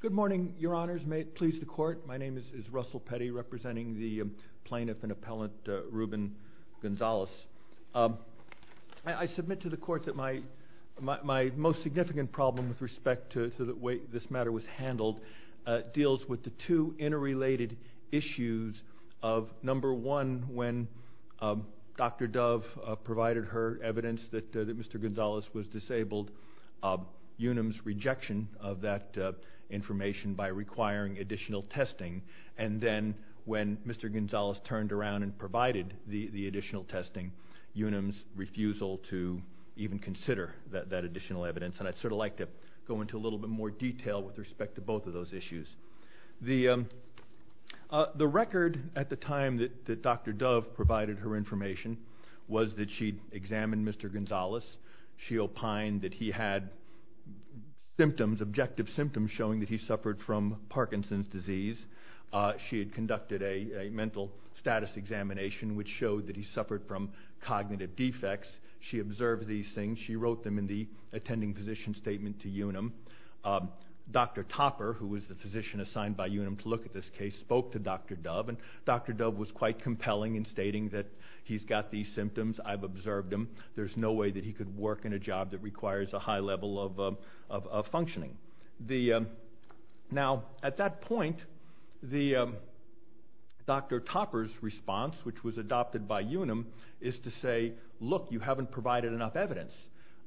Good morning, Your Honors. May it please the Court, my name is Russell Petty, representing the plaintiff and appellant Ruben Gonzales. I submit to the Court that my most significant problem with respect to the way this matter was handled deals with the two interrelated issues of, number one, when Dr. Dove provided her evidence that Mr. Gonzales was disabled, Unum's rejection of that information by requiring additional testing, and then when Mr. Gonzales turned around and provided the additional testing, Unum's refusal to even consider that additional evidence. And I'd sort of like to go into a little bit more detail with respect to both of those issues. The record at the time that Dr. Dove provided her information was that she'd examined Mr. Gonzales, she opined that he had symptoms, objective symptoms showing that he suffered from Parkinson's disease. She had conducted a mental status examination which showed that he suffered from cognitive defects. She observed these things, she wrote them in the attending physician's statement to Unum. Dr. Topper, who was the physician assigned by Unum to look at this case, spoke to Dr. Dove, and Dr. Dove was quite compelling in stating that he's got these symptoms, I've observed them, there's no way that he could work in a job that requires a high level of functioning. Now, at that point, Dr. Topper's response, which was adopted by Unum, is to say, look, you haven't provided enough evidence.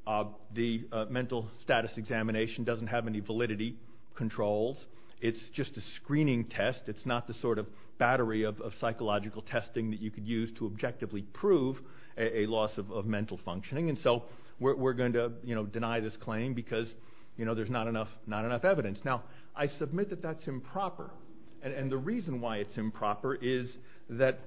The mental status examination doesn't have any validity controls, it's just a screening test, it's not the sort of battery of psychological testing that you could use to objectively prove a loss of mental functioning, and so we're going to deny this claim because there's not enough evidence. Now, I submit that that's improper, and the reason why it's improper is that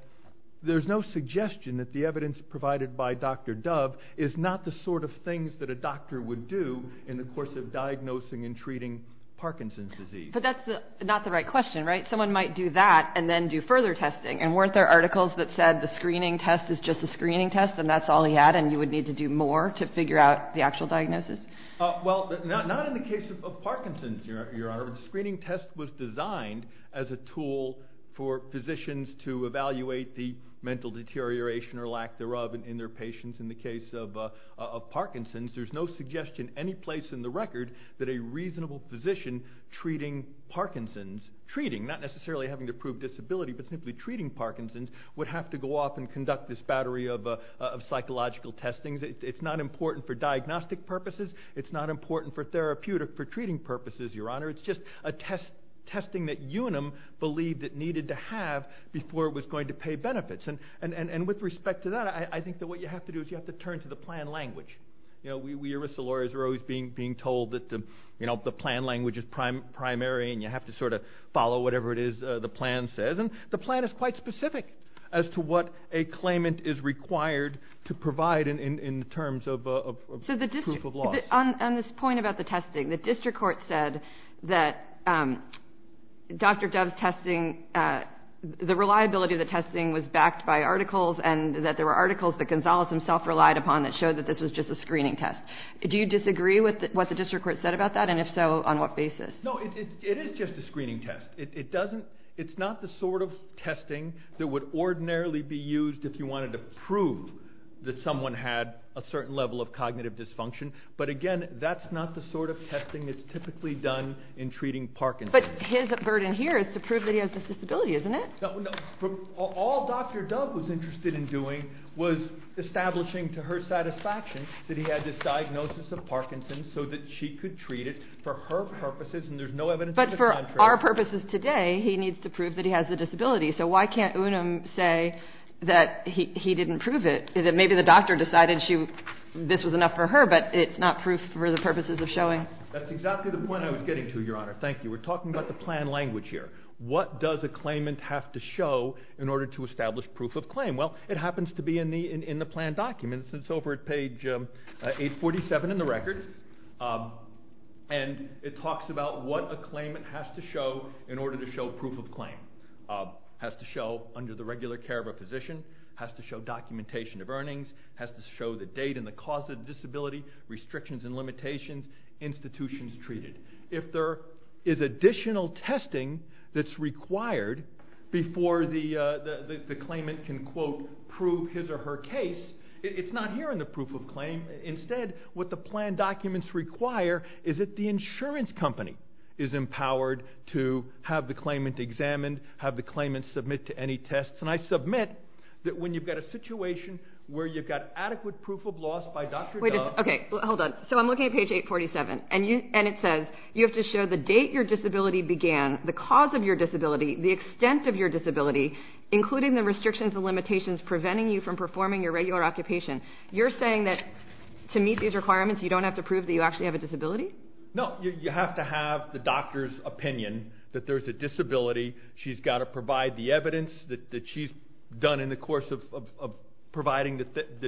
there's no suggestion that the evidence provided by Dr. Dove is not the sort of things that a doctor would do in the course of diagnosing and treating Parkinson's disease. But that's not the right question, right? Someone might do that and then do further testing, and weren't there articles that said the screening test is just a screening test and that's all he had and you would need to do more to figure out the actual diagnosis? Well, not in the case of Parkinson's, Your Honor. The screening test was designed as a tool for physicians to evaluate the mental deterioration or lack thereof in their patients. In the case of Parkinson's, there's no suggestion any place in the record that a reasonable physician treating Parkinson's, treating, not necessarily having to prove disability, but simply treating Parkinson's, would have to go off and conduct this battery of psychological testing. It's not important for diagnostic purposes, it's not important for therapeutic, for treating purposes, Your Honor. It's just a testing that UNM believed it needed to have before it was going to pay benefits. And with respect to that, I think that what you have to do is you have to turn to the plan language. You know, we, as lawyers, are always being told that the plan language is primary and you have to sort of follow whatever it is the plan says. And the plan is quite specific as to what a claimant is required to provide in terms of proof of law. So the district, on this point about the testing, the district court said that Dr. Dove's testing, the reliability of the testing was backed by articles and that there were articles that Gonzales himself relied upon that showed that this was just a screening test. Do you disagree with what the district court said about that? And if so, on what basis? No, it is just a screening test. It doesn't, it's not the sort of testing that would ordinarily be used if you wanted to prove that someone had a certain level of cognitive dysfunction. But again, that's not the sort of testing that's typically done in treating Parkinson's. But his burden here is to prove that he has a disability, isn't it? All Dr. Dove was interested in doing was establishing to her satisfaction that he had this diagnosis of Parkinson's so that she could treat it for her purposes and there's no evidence. But for our purposes today, he needs to prove that he has a disability. So why can't Unum say that he didn't prove it, that maybe the doctor decided she, this was enough for her, but it's not proof for the purposes of showing. That's exactly the point I was getting to, Your Honor. Thank you. We're talking about the plan language here. What does a claimant have to show in order to establish proof of claim? Well, it happens to be in the plan documents. It's over at page 847 in the record. And it talks about what a claimant has to show in order to show proof of claim. Has to show under the regular care of a physician, has to show documentation of earnings, has to show the date and the cause of disability, restrictions and limitations, institutions treated. If there is additional testing that's required before the claimant can quote prove his or her case, it's not here in the proof of claim. Instead, what the plan documents require is that the insurance company is empowered to have the claimant examined, have the claimant submit to any tests. And I submit that when you've got a situation where you've got adequate proof of loss by Dr. Dove... Okay, hold on. So I'm looking at page 847, and it says you have to show the date your disability began, the cause of your disability, the extent of your disability, including the restrictions and limitations preventing you from performing your regular occupation. You're saying that to meet these requirements, you don't have to prove that you actually have a disability? No, you have to have the doctor's opinion that there's a disability. She's got to provide the evidence that she's done in the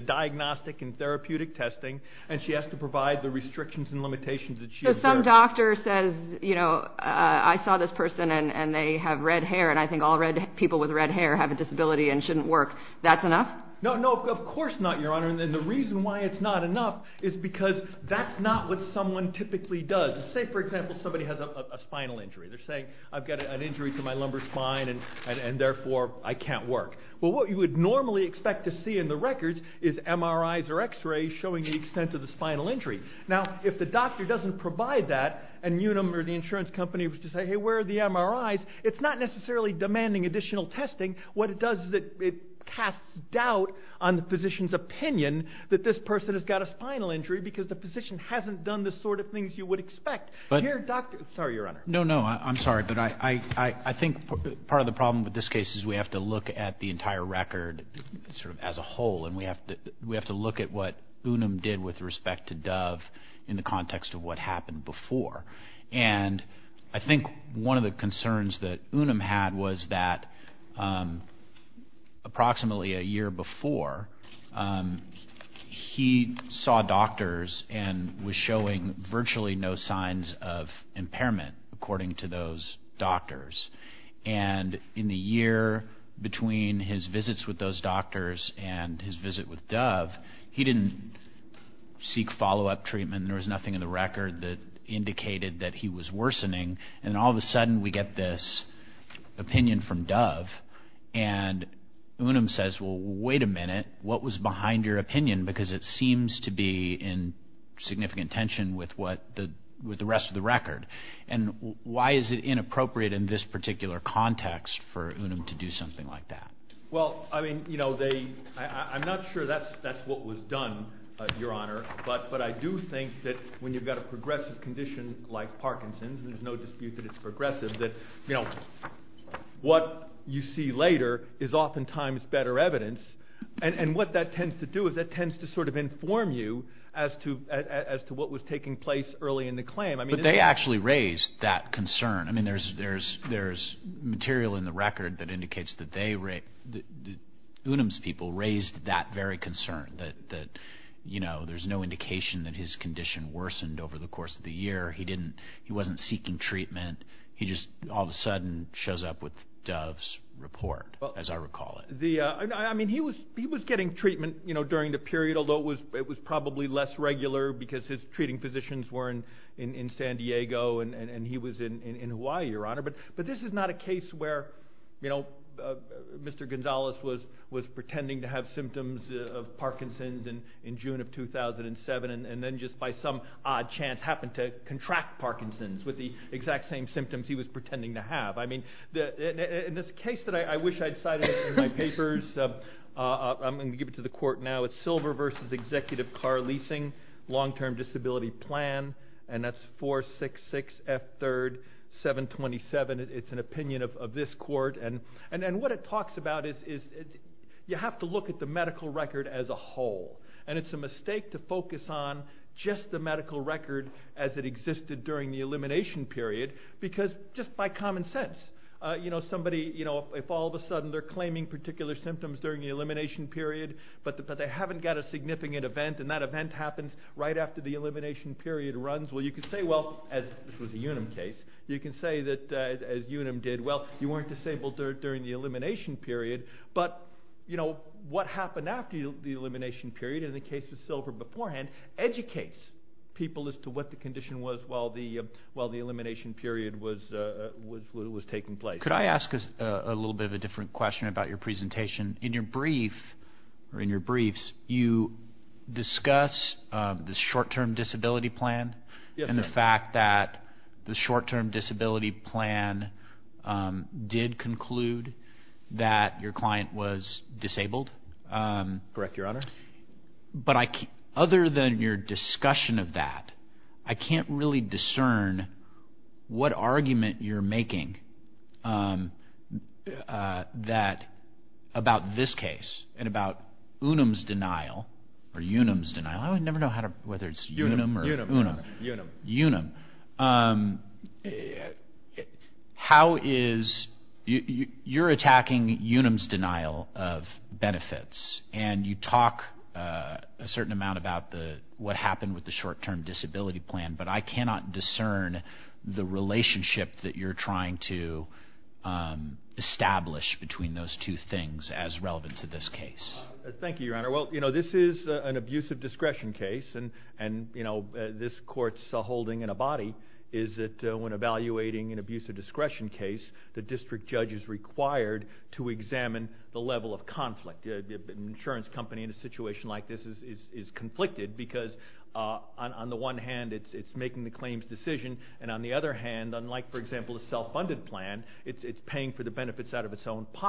diagnostic and therapeutic testing, and she has to provide the restrictions and limitations that she has there. So some doctor says, you know, I saw this person and they have red hair, and I think all red people with red hair have a disability and shouldn't work. That's enough? No, no, of course not, Your Honor. And the reason why it's not enough is because that's not what someone typically does. Say, for example, somebody has a spinal injury. They're saying, I've got an injury to my lumbar spine, and therefore I can't work. Well, what you would expect to see in the records is MRIs or x-rays showing the extent of the spinal injury. Now, if the doctor doesn't provide that, and Unum or the insurance company was to say, hey, where are the MRIs? It's not necessarily demanding additional testing. What it does is that it casts doubt on the physician's opinion that this person has got a spinal injury because the physician hasn't done the sort of things you would expect. Here, doctor, sorry, Your Honor. No, no, I'm sorry, but I think part of the problem with this case is we have to look at the entire record as a whole, and we have to look at what Unum did with respect to Dove in the context of what happened before. And I think one of the concerns that Unum had was that approximately a year before, he saw doctors and was showing virtually no signs of impairment, according to those doctors. And in the year between his visits with those doctors and his visit with Dove, he didn't seek follow-up treatment. There was nothing in the record that indicated that he was worsening. And all of a sudden, we get this opinion from Dove, and Unum says, well, wait a minute. What was behind your opinion? Because it seems to be in significant tension with the rest of the record. And why is it inappropriate in this particular context for Unum to do something like that? Well, I mean, I'm not sure that's what was done, Your Honor, but I do think that when you've got a progressive condition like Parkinson's, and there's no dispute that it's progressive, that what you see later is oftentimes better evidence. And what that tends to do is that actually raised that concern. I mean, there's material in the record that indicates that Unum's people raised that very concern, that there's no indication that his condition worsened over the course of the year. He wasn't seeking treatment. He just all of a sudden shows up with Dove's report, as I recall it. I mean, he was getting treatment during the period, although it was probably less regular, because his treating physicians were in San Diego, and he was in Hawaii, Your Honor. But this is not a case where, you know, Mr. Gonzalez was pretending to have symptoms of Parkinson's in June of 2007, and then just by some odd chance happened to contract Parkinson's with the exact same symptoms he was pretending to have. I mean, in this case that I wish I'd cited in my papers, I'm going to give it to the court now. It's Silver v. Executive Car Leasing, Long-Term Disability Plan, and that's 466 F. 3rd, 727. It's an opinion of this court. And what it talks about is you have to look at the medical record as a whole, and it's a mistake to focus on just the medical record as it existed during the elimination period, because just by common sense, you know, somebody, you know, if all of a sudden they're a significant event, and that event happens right after the elimination period runs, well, you can say, well, as this was a Unum case, you can say that as Unum did, well, you weren't disabled during the elimination period, but, you know, what happened after the elimination period, in the case of Silver beforehand, educates people as to what the condition was while the elimination period was taking place. Could I ask a little bit of a different question about your presentation? In your briefs, you discuss the short-term disability plan and the fact that the short-term disability plan did conclude that your client was disabled. Correct, Your Honor. But other than your discussion of that, I can't really that, about this case, and about Unum's denial, or Unum's denial, I would never know how to, whether it's Unum or Unum. Unum. Unum. How is, you're attacking Unum's denial of benefits, and you talk a certain amount about what happened with the short-term disability plan, but I as relevant to this case? Thank you, Your Honor. Well, you know, this is an abuse of discretion case, and, you know, this court's holding in a body is that when evaluating an abuse of discretion case, the district judge is required to examine the level of conflict. An insurance company in a situation like this is conflicted because, on the one hand, it's making the claim's decision, and on the other hand, unlike, for example, a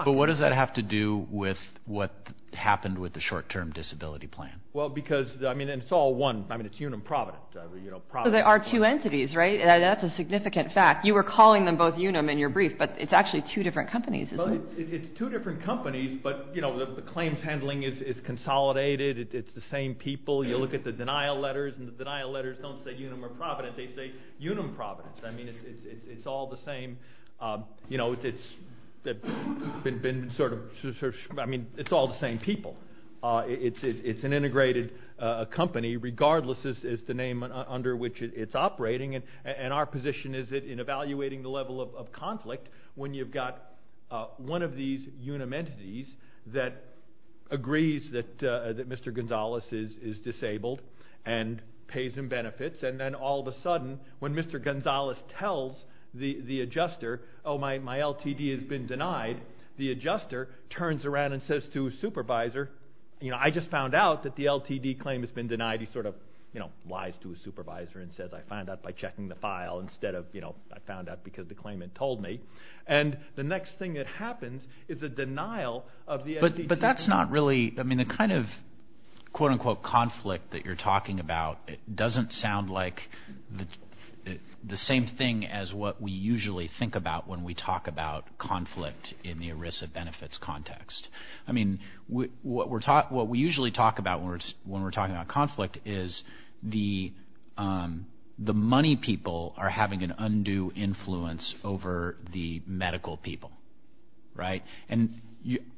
But what does that have to do with what happened with the short-term disability plan? Well, because, I mean, it's all one. I mean, it's Unum Provident. There are two entities, right? That's a significant fact. You were calling them both Unum in your brief, but it's actually two different companies. It's two different companies, but, you know, the claims handling is consolidated. It's the same people. You look at the denial letters, and the denial letters don't say Unum or Provident. They say Unum Provident. I mean, it's all the same, you know, it's been sort of, I mean, it's all the same people. It's an integrated company, regardless is the name under which it's operating, and our position is that in evaluating the level of conflict, when you've got one of these Unum entities that agrees that Mr. Gonzalez is disabled and pays him benefits, and then all of a sudden, when Mr. Gonzalez tells the adjuster, oh, my LTD has been denied, the adjuster turns around and says to his supervisor, you know, I just found out that the LTD claim has been denied. He sort of, you know, lies to his supervisor and says, I found out by checking the file instead of, you know, I found out because the claimant told me, and the next thing that happens is the denial of the LTD. But that's not really, I mean, the kind of quote-unquote conflict that you're talking about is the same thing as what we usually think about when we talk about conflict in the ERISA benefits context. I mean, what we usually talk about when we're talking about conflict is the money people are having an undue influence over the medical people, right? And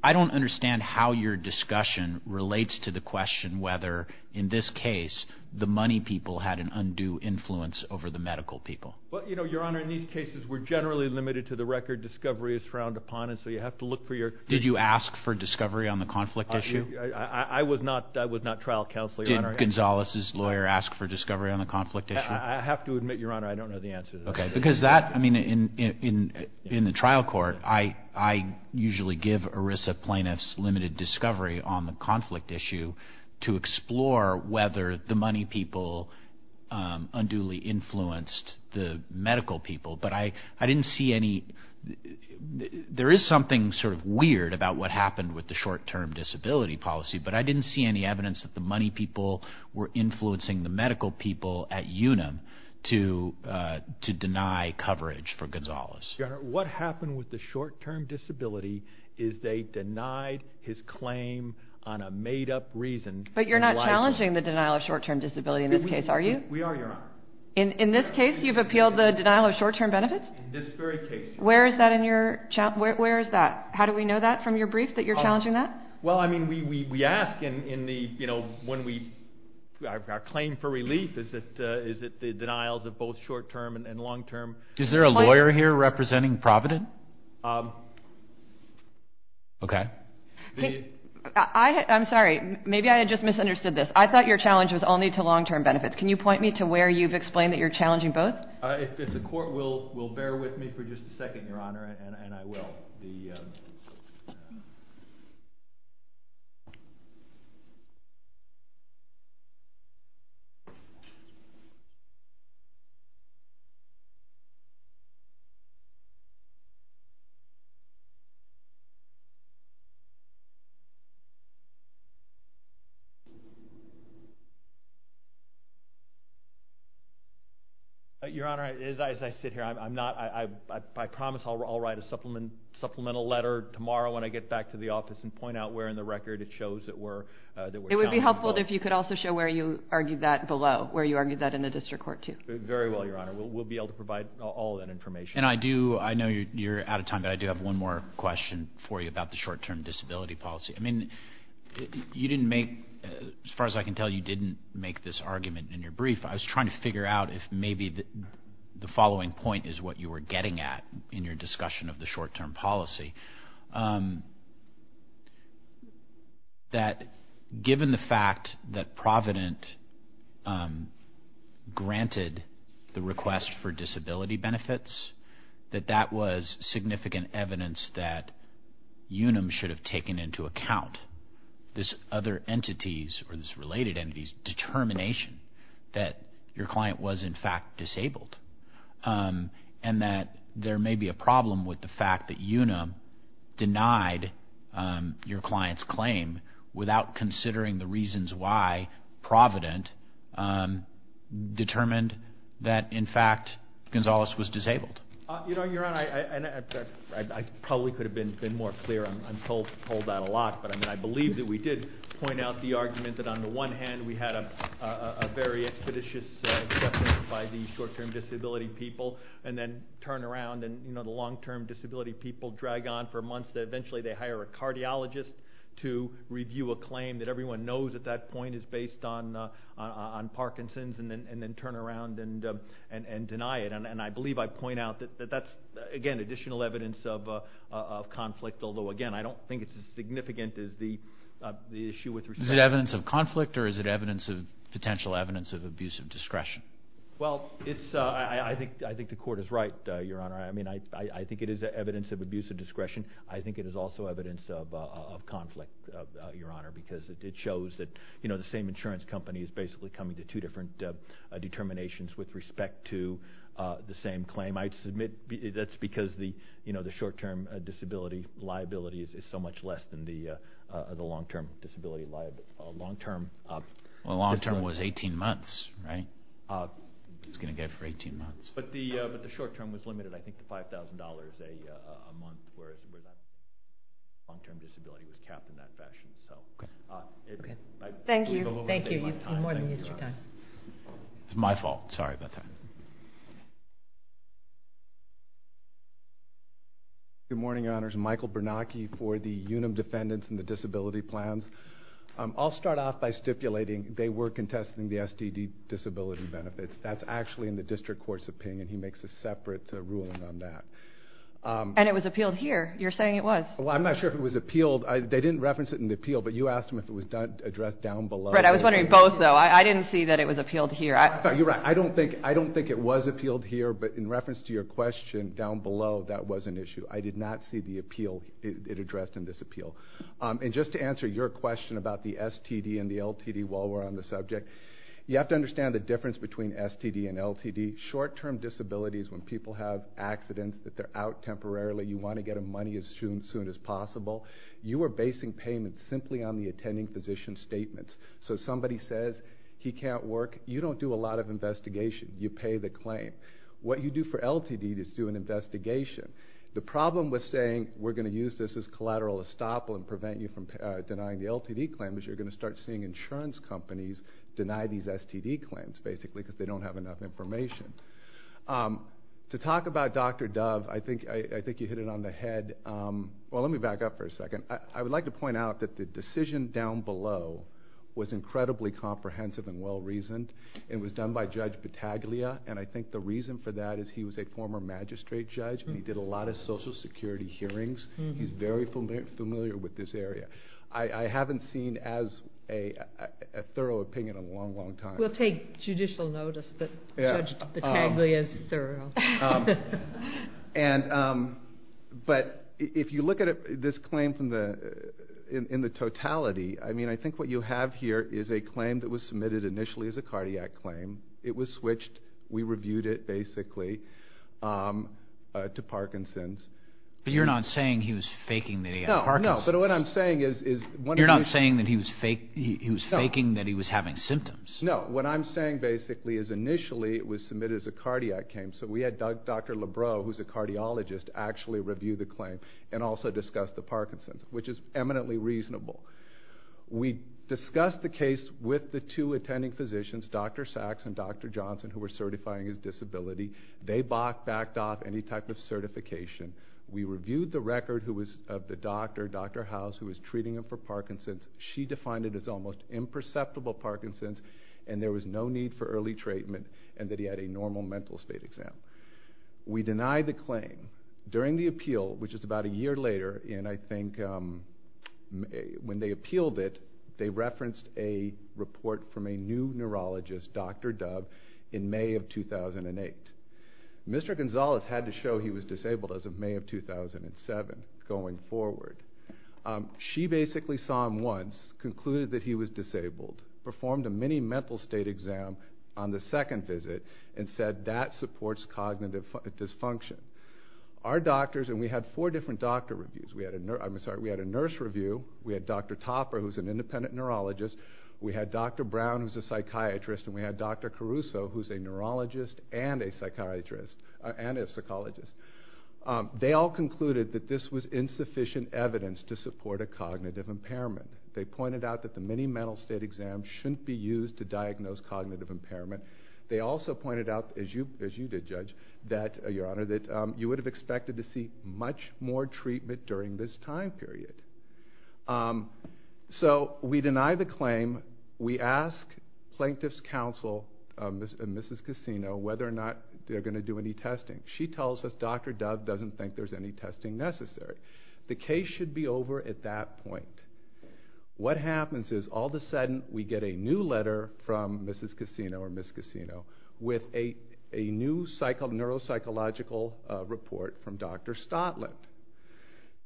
I don't understand how your discussion relates to the question whether, in this case, the money people had an undue influence over the medical people. Well, you know, Your Honor, in these cases, we're generally limited to the record discovery is frowned upon, and so you have to look for your... Did you ask for discovery on the conflict issue? I was not trial counseling, Your Honor. Did Gonzalez's lawyer ask for discovery on the conflict issue? I have to admit, Your Honor, I don't know the answer to that. Okay, because that, I mean, in the trial court, I usually give ERISA plaintiffs limited discovery on the conflict issue to explore whether the money people unduly influenced the medical people, but I didn't see any... There is something sort of weird about what happened with the short-term disability policy, but I didn't see any evidence that the money people were influencing the medical people at UNAM to deny coverage for Gonzalez. What happened with the short-term disability is they denied his claim on a made-up reason. But you're not challenging the denial of short-term disability in this case, are you? We are, Your Honor. In this case, you've appealed the denial of short-term benefits? In this very case. Where is that in your... Where is that? How do we know that from your brief, that you're challenging that? Well, I mean, we ask in the, you know, when we... Our claim for relief, is it the denials of both short-term and long-term? Is there a lawyer here representing Provident? Okay. I'm sorry, maybe I just misunderstood this. I thought your challenge was only to long-term benefits. Can you point me to where you've explained that you're challenging both? If the court will bear with me for just a second, Your Honor, and I will. Okay. Your Honor, as I sit here, I'm not... I promise I'll write a supplemental letter tomorrow when I get back to the office and point out where in the record it shows that we're challenging both. It would be helpful if you could also show where you argued that below, where you argued that in the district court, too. Very well, Your Honor. We'll be able to provide all that information. And I do... I know you're out of time, but I do have one more question for you about the short-term disability policy. I mean, you didn't make... As far as I can tell, you didn't make this argument in your brief. I was trying to figure out if maybe the following point is what you were getting at in your discussion of the short-term policy. That given the fact that Provident granted the request for disability benefits, that that was significant evidence that UNUM should have taken into account this other entity's or this related entity's determination that your client was in fact disabled. And that there may be a problem with the fact that UNUM denied your client's claim without considering the reasons why Provident determined that, in fact, Gonzalez was disabled. You know, Your Honor, I probably could have been more clear. I'm told that a lot, but I mean, I believe that we did point out the argument that on people and then turn around and, you know, the long-term disability people drag on for months that eventually they hire a cardiologist to review a claim that everyone knows at that point is based on Parkinson's and then turn around and deny it. And I believe I point out that that's, again, additional evidence of conflict, although, again, I don't think it's as significant as the issue with... Is it evidence of conflict or is it evidence of... potential evidence of abuse of discretion? Well, it's... I think the court is right, Your Honor. I mean, I think it is evidence of abuse of discretion. I think it is also evidence of conflict, Your Honor, because it shows that, you know, the same insurance company is basically coming to two different determinations with respect to the same claim. I submit that's because the, you know, the short-term disability liability is so much less than the long-term disability liability. Long-term... Well, long-term was 18 months, right? It's going to get for 18 months. But the short-term was limited, I think, to $5,000 a month, whereas the long-term disability was capped in that fashion. So... Okay. Okay. I believe a little bit of my time... Thank you. Thank you. You've more than used your time. It's my fault. Sorry about that. Good morning, Your Honors. Michael Bernacchi for the UNAM Defendants and the Disability Plans. I'll start off by stipulating they were contesting the SDD disability benefits. That's actually in the district court's opinion. He makes a separate ruling on that. And it was appealed here. You're saying it was. Well, I'm not sure if it was appealed. They didn't reference it in the appeal, but you asked him if it was addressed down below. Right. I was wondering both, though. I didn't see that it was appealed here. No, you're right. I don't think it was appealed here, but in reference to your question down below, that was an issue. I did not see the appeal it addressed in this appeal. And just to answer your question about the STD and the LTD while we're on the subject, you have to understand the difference between STD and LTD. Short-term disabilities, when people have accidents, that they're out temporarily, you want to get them money as soon as possible. You are basing payments simply on the attending physician's statements. So somebody says he can't work, you don't do a lot of investigation. You pay the claim. What you do for LTD is do an investigation. The problem with saying we're going to use this as collateral estoppel and prevent you from denying the LTD claim is you're going to start seeing insurance companies deny these STD claims, basically, because they don't have enough information. To talk about Dr. Dove, I think you hit it on the head. Well, let me back up for a second. I would like to point out that the decision down below was incredibly comprehensive and well-reasoned. It was done by Judge Battaglia, and I think the reason for that is he was a former magistrate and he did a lot of social security hearings. He's very familiar with this area. I haven't seen as a thorough opinion in a long, long time. We'll take judicial notice that Judge Battaglia is thorough. But if you look at this claim in the totality, I mean, I think what you have here is a claim that was submitted initially as a cardiac claim. It was switched. We reviewed it, basically. To Parkinson's. But you're not saying he was faking that he had Parkinson's? No, no. But what I'm saying is one of the... You're not saying that he was faking that he was having symptoms? No. What I'm saying, basically, is initially it was submitted as a cardiac claim. So we had Dr. Lebrow, who's a cardiologist, actually review the claim and also discuss the Parkinson's, which is eminently reasonable. We discussed the case with the two attending physicians, Dr. Sachs and Dr. Johnson, who were certifying his disability. They backed off any type of certification. We reviewed the record of the doctor, Dr. House, who was treating him for Parkinson's. She defined it as almost imperceptible Parkinson's and there was no need for early treatment and that he had a normal mental state exam. We denied the claim. During the appeal, which is about a year later, and I think when they appealed it, they referenced a report from a new neurologist, Dr. Dove, in May of 2008. Mr. Gonzalez had to show he was disabled as of May of 2007, going forward. She basically saw him once, concluded that he was disabled, performed a mini mental state exam on the second visit, and said that supports cognitive dysfunction. Our doctors, and we had four different doctor reviews. We had a nurse review. We had Dr. Topper, who's an independent neurologist. We had Dr. Brown, who's a psychiatrist. We had Dr. Caruso, who's a neurologist and a psychologist. They all concluded that this was insufficient evidence to support a cognitive impairment. They pointed out that the mini mental state exam shouldn't be used to diagnose cognitive impairment. They also pointed out, as you did, Judge, that you would have expected to see much more So we deny the claim. We ask plaintiff's counsel, Mrs. Cassino, whether or not they're going to do any testing. She tells us Dr. Dove doesn't think there's any testing necessary. The case should be over at that point. What happens is, all of a sudden, we get a new letter from Mrs. Cassino, or Ms. Cassino, with a new neuropsychological report from Dr. Stotland.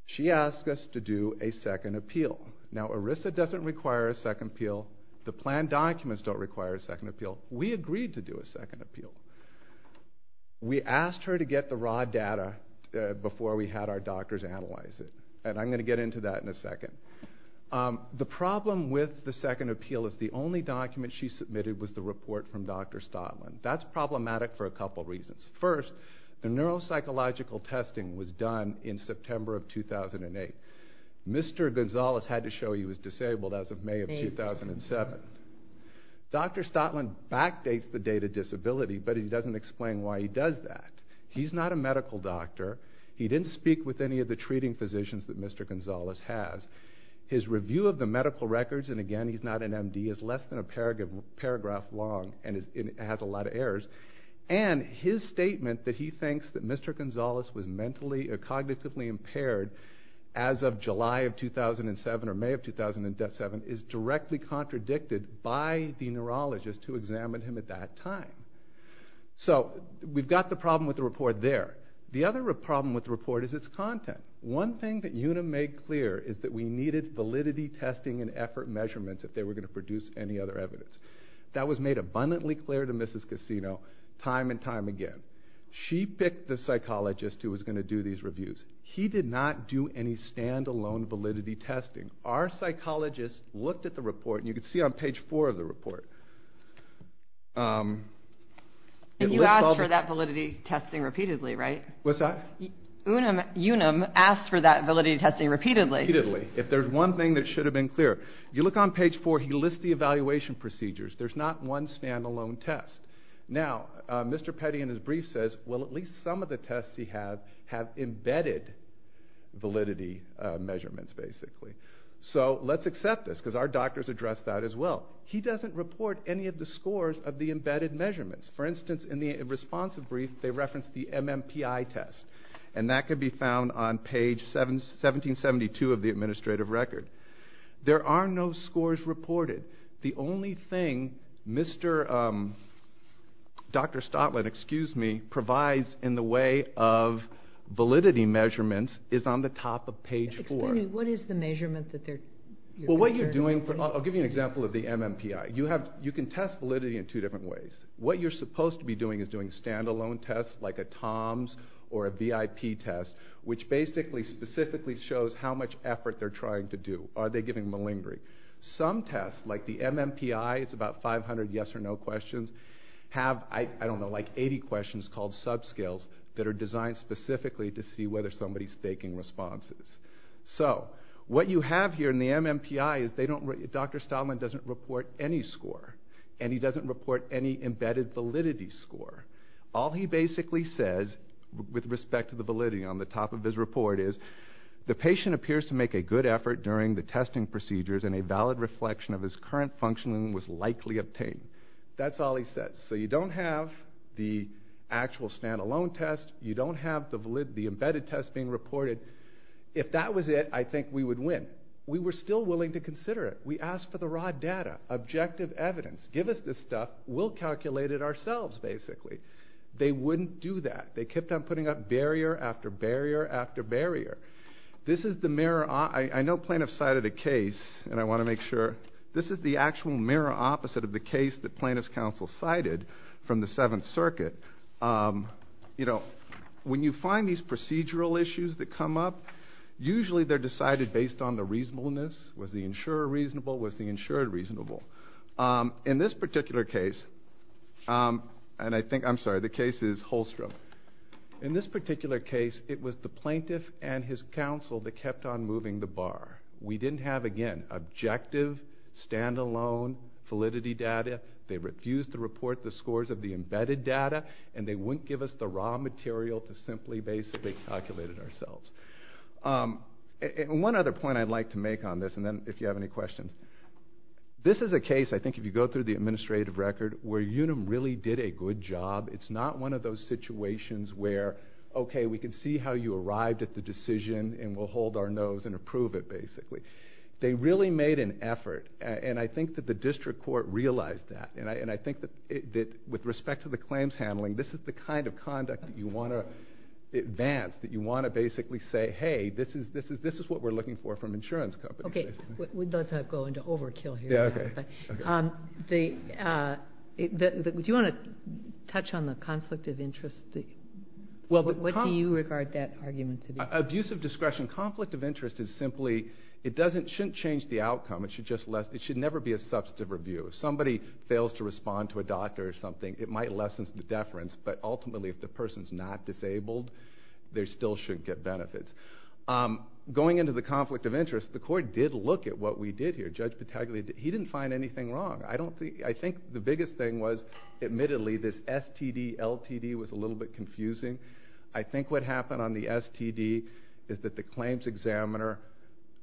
She asks us to do a second appeal. Now, ERISA doesn't require a second appeal. The planned documents don't require a second appeal. We agreed to do a second appeal. We asked her to get the raw data before we had our doctors analyze it. I'm going to get into that in a second. The problem with the second appeal is the only document she submitted was the report from Dr. Stotland. That's problematic for a couple reasons. First, the neuropsychological testing was done in September of 2008. Mr. Gonzales had to show he was disabled as of May of 2007. Dr. Stotland backdates the data disability, but he doesn't explain why he does that. He's not a medical doctor. He didn't speak with any of the treating physicians that Mr. Gonzales has. His review of the medical records, and again, he's not an MD, is less than a paragraph long, and it has a lot of errors. And his statement that he thinks that Mr. Gonzales was mentally or cognitively impaired as of July of 2007 or May of 2007 is directly contradicted by the neurologist who examined him at that time. So we've got the problem with the report there. The other problem with the report is its content. One thing that Una made clear is that we needed validity testing and effort measurements if they were going to produce any other evidence. That was made abundantly clear to Mrs. Cassino time and time again. She picked the psychologist who was going to do these reviews. He did not do any stand-alone validity testing. Our psychologist looked at the report, and you can see on page four of the report. And you asked for that validity testing repeatedly, right? What's that? Unum asked for that validity testing repeatedly. If there's one thing that should have been clear. You look on page four, he lists the evaluation procedures. There's not one stand-alone test. Now, Mr. Petty in his brief says, well, at least some of the tests he had have embedded validity measurements, basically. So let's accept this, because our doctors addressed that as well. He doesn't report any of the scores of the embedded measurements. For instance, in the responsive brief, they referenced the MMPI test. And that could be found on page 1772 of the administrative record. There are no scores reported. The only thing Dr. Stotland, excuse me, provides in the way of validity measurements is on the top of page four. Explain to me, what is the measurement that they're measuring? Well, what you're doing, I'll give you an example of the MMPI. You can test validity in two different ways. What you're supposed to be doing is doing stand-alone tests, like a TOMS or a VIP test, which basically, specifically shows how much effort they're trying to do. Are they giving malingering? Some tests, like the MMPI, it's about 500 yes or no questions, have, I don't know, like 80 questions called subscales that are designed specifically to see whether somebody's faking responses. So what you have here in the MMPI is they don't, Dr. Stotland doesn't report any score. And he doesn't report any embedded validity score. All he basically says, with respect to the validity on the top of his report is, the patient appears to make a good effort during the testing procedures and a valid reflection of his current functioning was likely obtained. That's all he says. So you don't have the actual stand-alone test. You don't have the embedded test being reported. If that was it, I think we would win. We were still willing to consider it. We asked for the raw data, objective evidence. Give us this stuff. We'll calculate it ourselves, basically. They wouldn't do that. They kept on putting up barrier after barrier after barrier. This is the mirror, I know plaintiff cited a case, and I want to make sure, this is the actual mirror opposite of the case that plaintiff's counsel cited from the Seventh Circuit. You know, when you find these procedural issues that come up, usually they're decided based on the reasonableness. Was the insurer reasonable? Was the insured reasonable? In this particular case, and I think, I'm sorry, the case is Holstrom. In this particular case, it was the plaintiff and his counsel that kept on moving the bar. We didn't have, again, objective, stand-alone, validity data. They refused to report the scores of the embedded data, and they wouldn't give us the raw material to simply basically calculate it ourselves. One other point I'd like to make on this, and then if you have any questions. This is a case, I think, if you go through the administrative record, where Unum really did a good job. It's not one of those situations where, okay, we can see how you arrived at the decision, and we'll hold our nose and approve it, basically. They really made an effort, and I think that the district court realized that. And I think that with respect to the claims handling, this is the kind of conduct that you want to advance, that you want to basically say, hey, this is what we're looking for from insurance companies, basically. Okay, let's not go into overkill here. Yeah, okay. Do you want to touch on the conflict of interest? What do you regard that argument to be? Abusive discretion. Conflict of interest is simply, it shouldn't change the outcome. It should never be a substantive review. If somebody fails to respond to a doctor or something, it might lessen the deference. But ultimately, if the person's not disabled, they still shouldn't get benefits. Going into the conflict of interest, the court did look at what we did here. He didn't find anything wrong. I think the biggest thing was, admittedly, this STD-LTD was a little bit confusing. I think what happened on the STD is that the claims examiner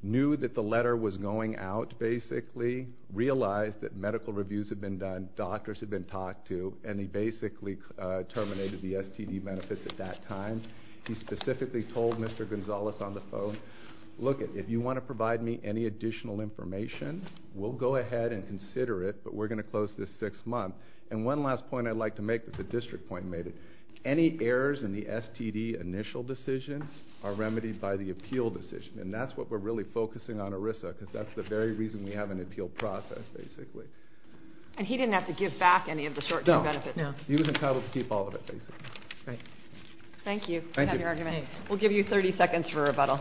knew that the letter was going out, basically, realized that medical reviews had been done, doctors had been talked to, and he basically terminated the STD benefits at that time. He specifically told Mr. Gonzalez on the phone, look, if you want to provide me any additional information, we'll go ahead and consider it, but we're going to close this six-month. And one last point I'd like to make that the district point made it, any errors in the STD initial decision are remedied by the appeal decision. And that's what we're really focusing on, Arissa, because that's the very reason we have an appeal process, basically. And he didn't have to give back any of the short-term benefits? No. He was entitled to keep all of it, basically. Great. Thank you. Thank you. We'll give you 30 seconds for rebuttal.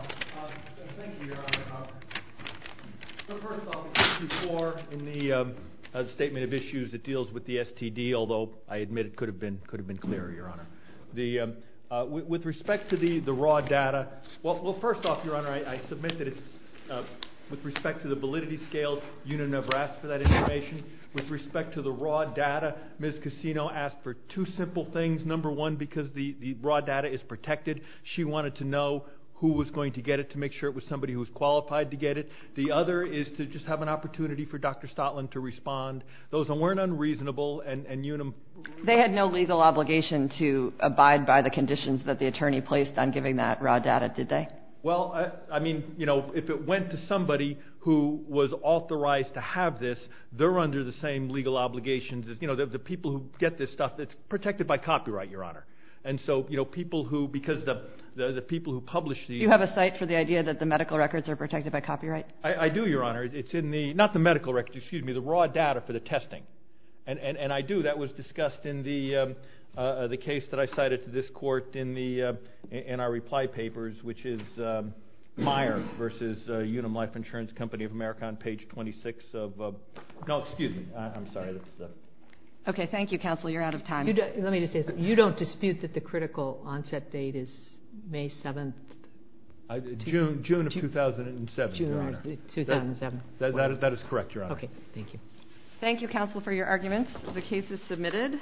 Thank you, Your Honor. So first off, before, in the statement of issues that deals with the STD, although I admit it could have been clearer, Your Honor, with respect to the raw data, well, first off, Your Honor, I submit that with respect to the validity scales, you never asked for that information. With respect to the raw data, Ms. Cassino asked for two simple things. Number one, because the raw data is protected. She wanted to know who was going to get it to make sure it was somebody who was qualified to get it. The other is to just have an opportunity for Dr. Stotland to respond. Those weren't unreasonable and unimportant. They had no legal obligation to abide by the conditions that the attorney placed on giving that raw data, did they? Well, I mean, you know, if it went to somebody who was authorized to have this, they're under the same legal obligations as, you know, the people who get this stuff. It's protected by copyright, Your Honor. And so, you know, people who, because the people who publish these. Do you have a site for the idea that the medical records are protected by copyright? I do, Your Honor. It's in the, not the medical records, excuse me, the raw data for the testing. And I do, that was discussed in the case that I cited to this court in our reply papers, which is Meyer versus Unum Life Insurance Company of America on page 26 of, no, excuse me, I'm sorry. Okay, thank you, counsel. You're out of time. Let me just say something. You don't dispute that the critical onset date is May 7th? June of 2007, Your Honor. 2007. That is correct, Your Honor. Okay, thank you. Thank you, counsel, for your arguments. The case is submitted.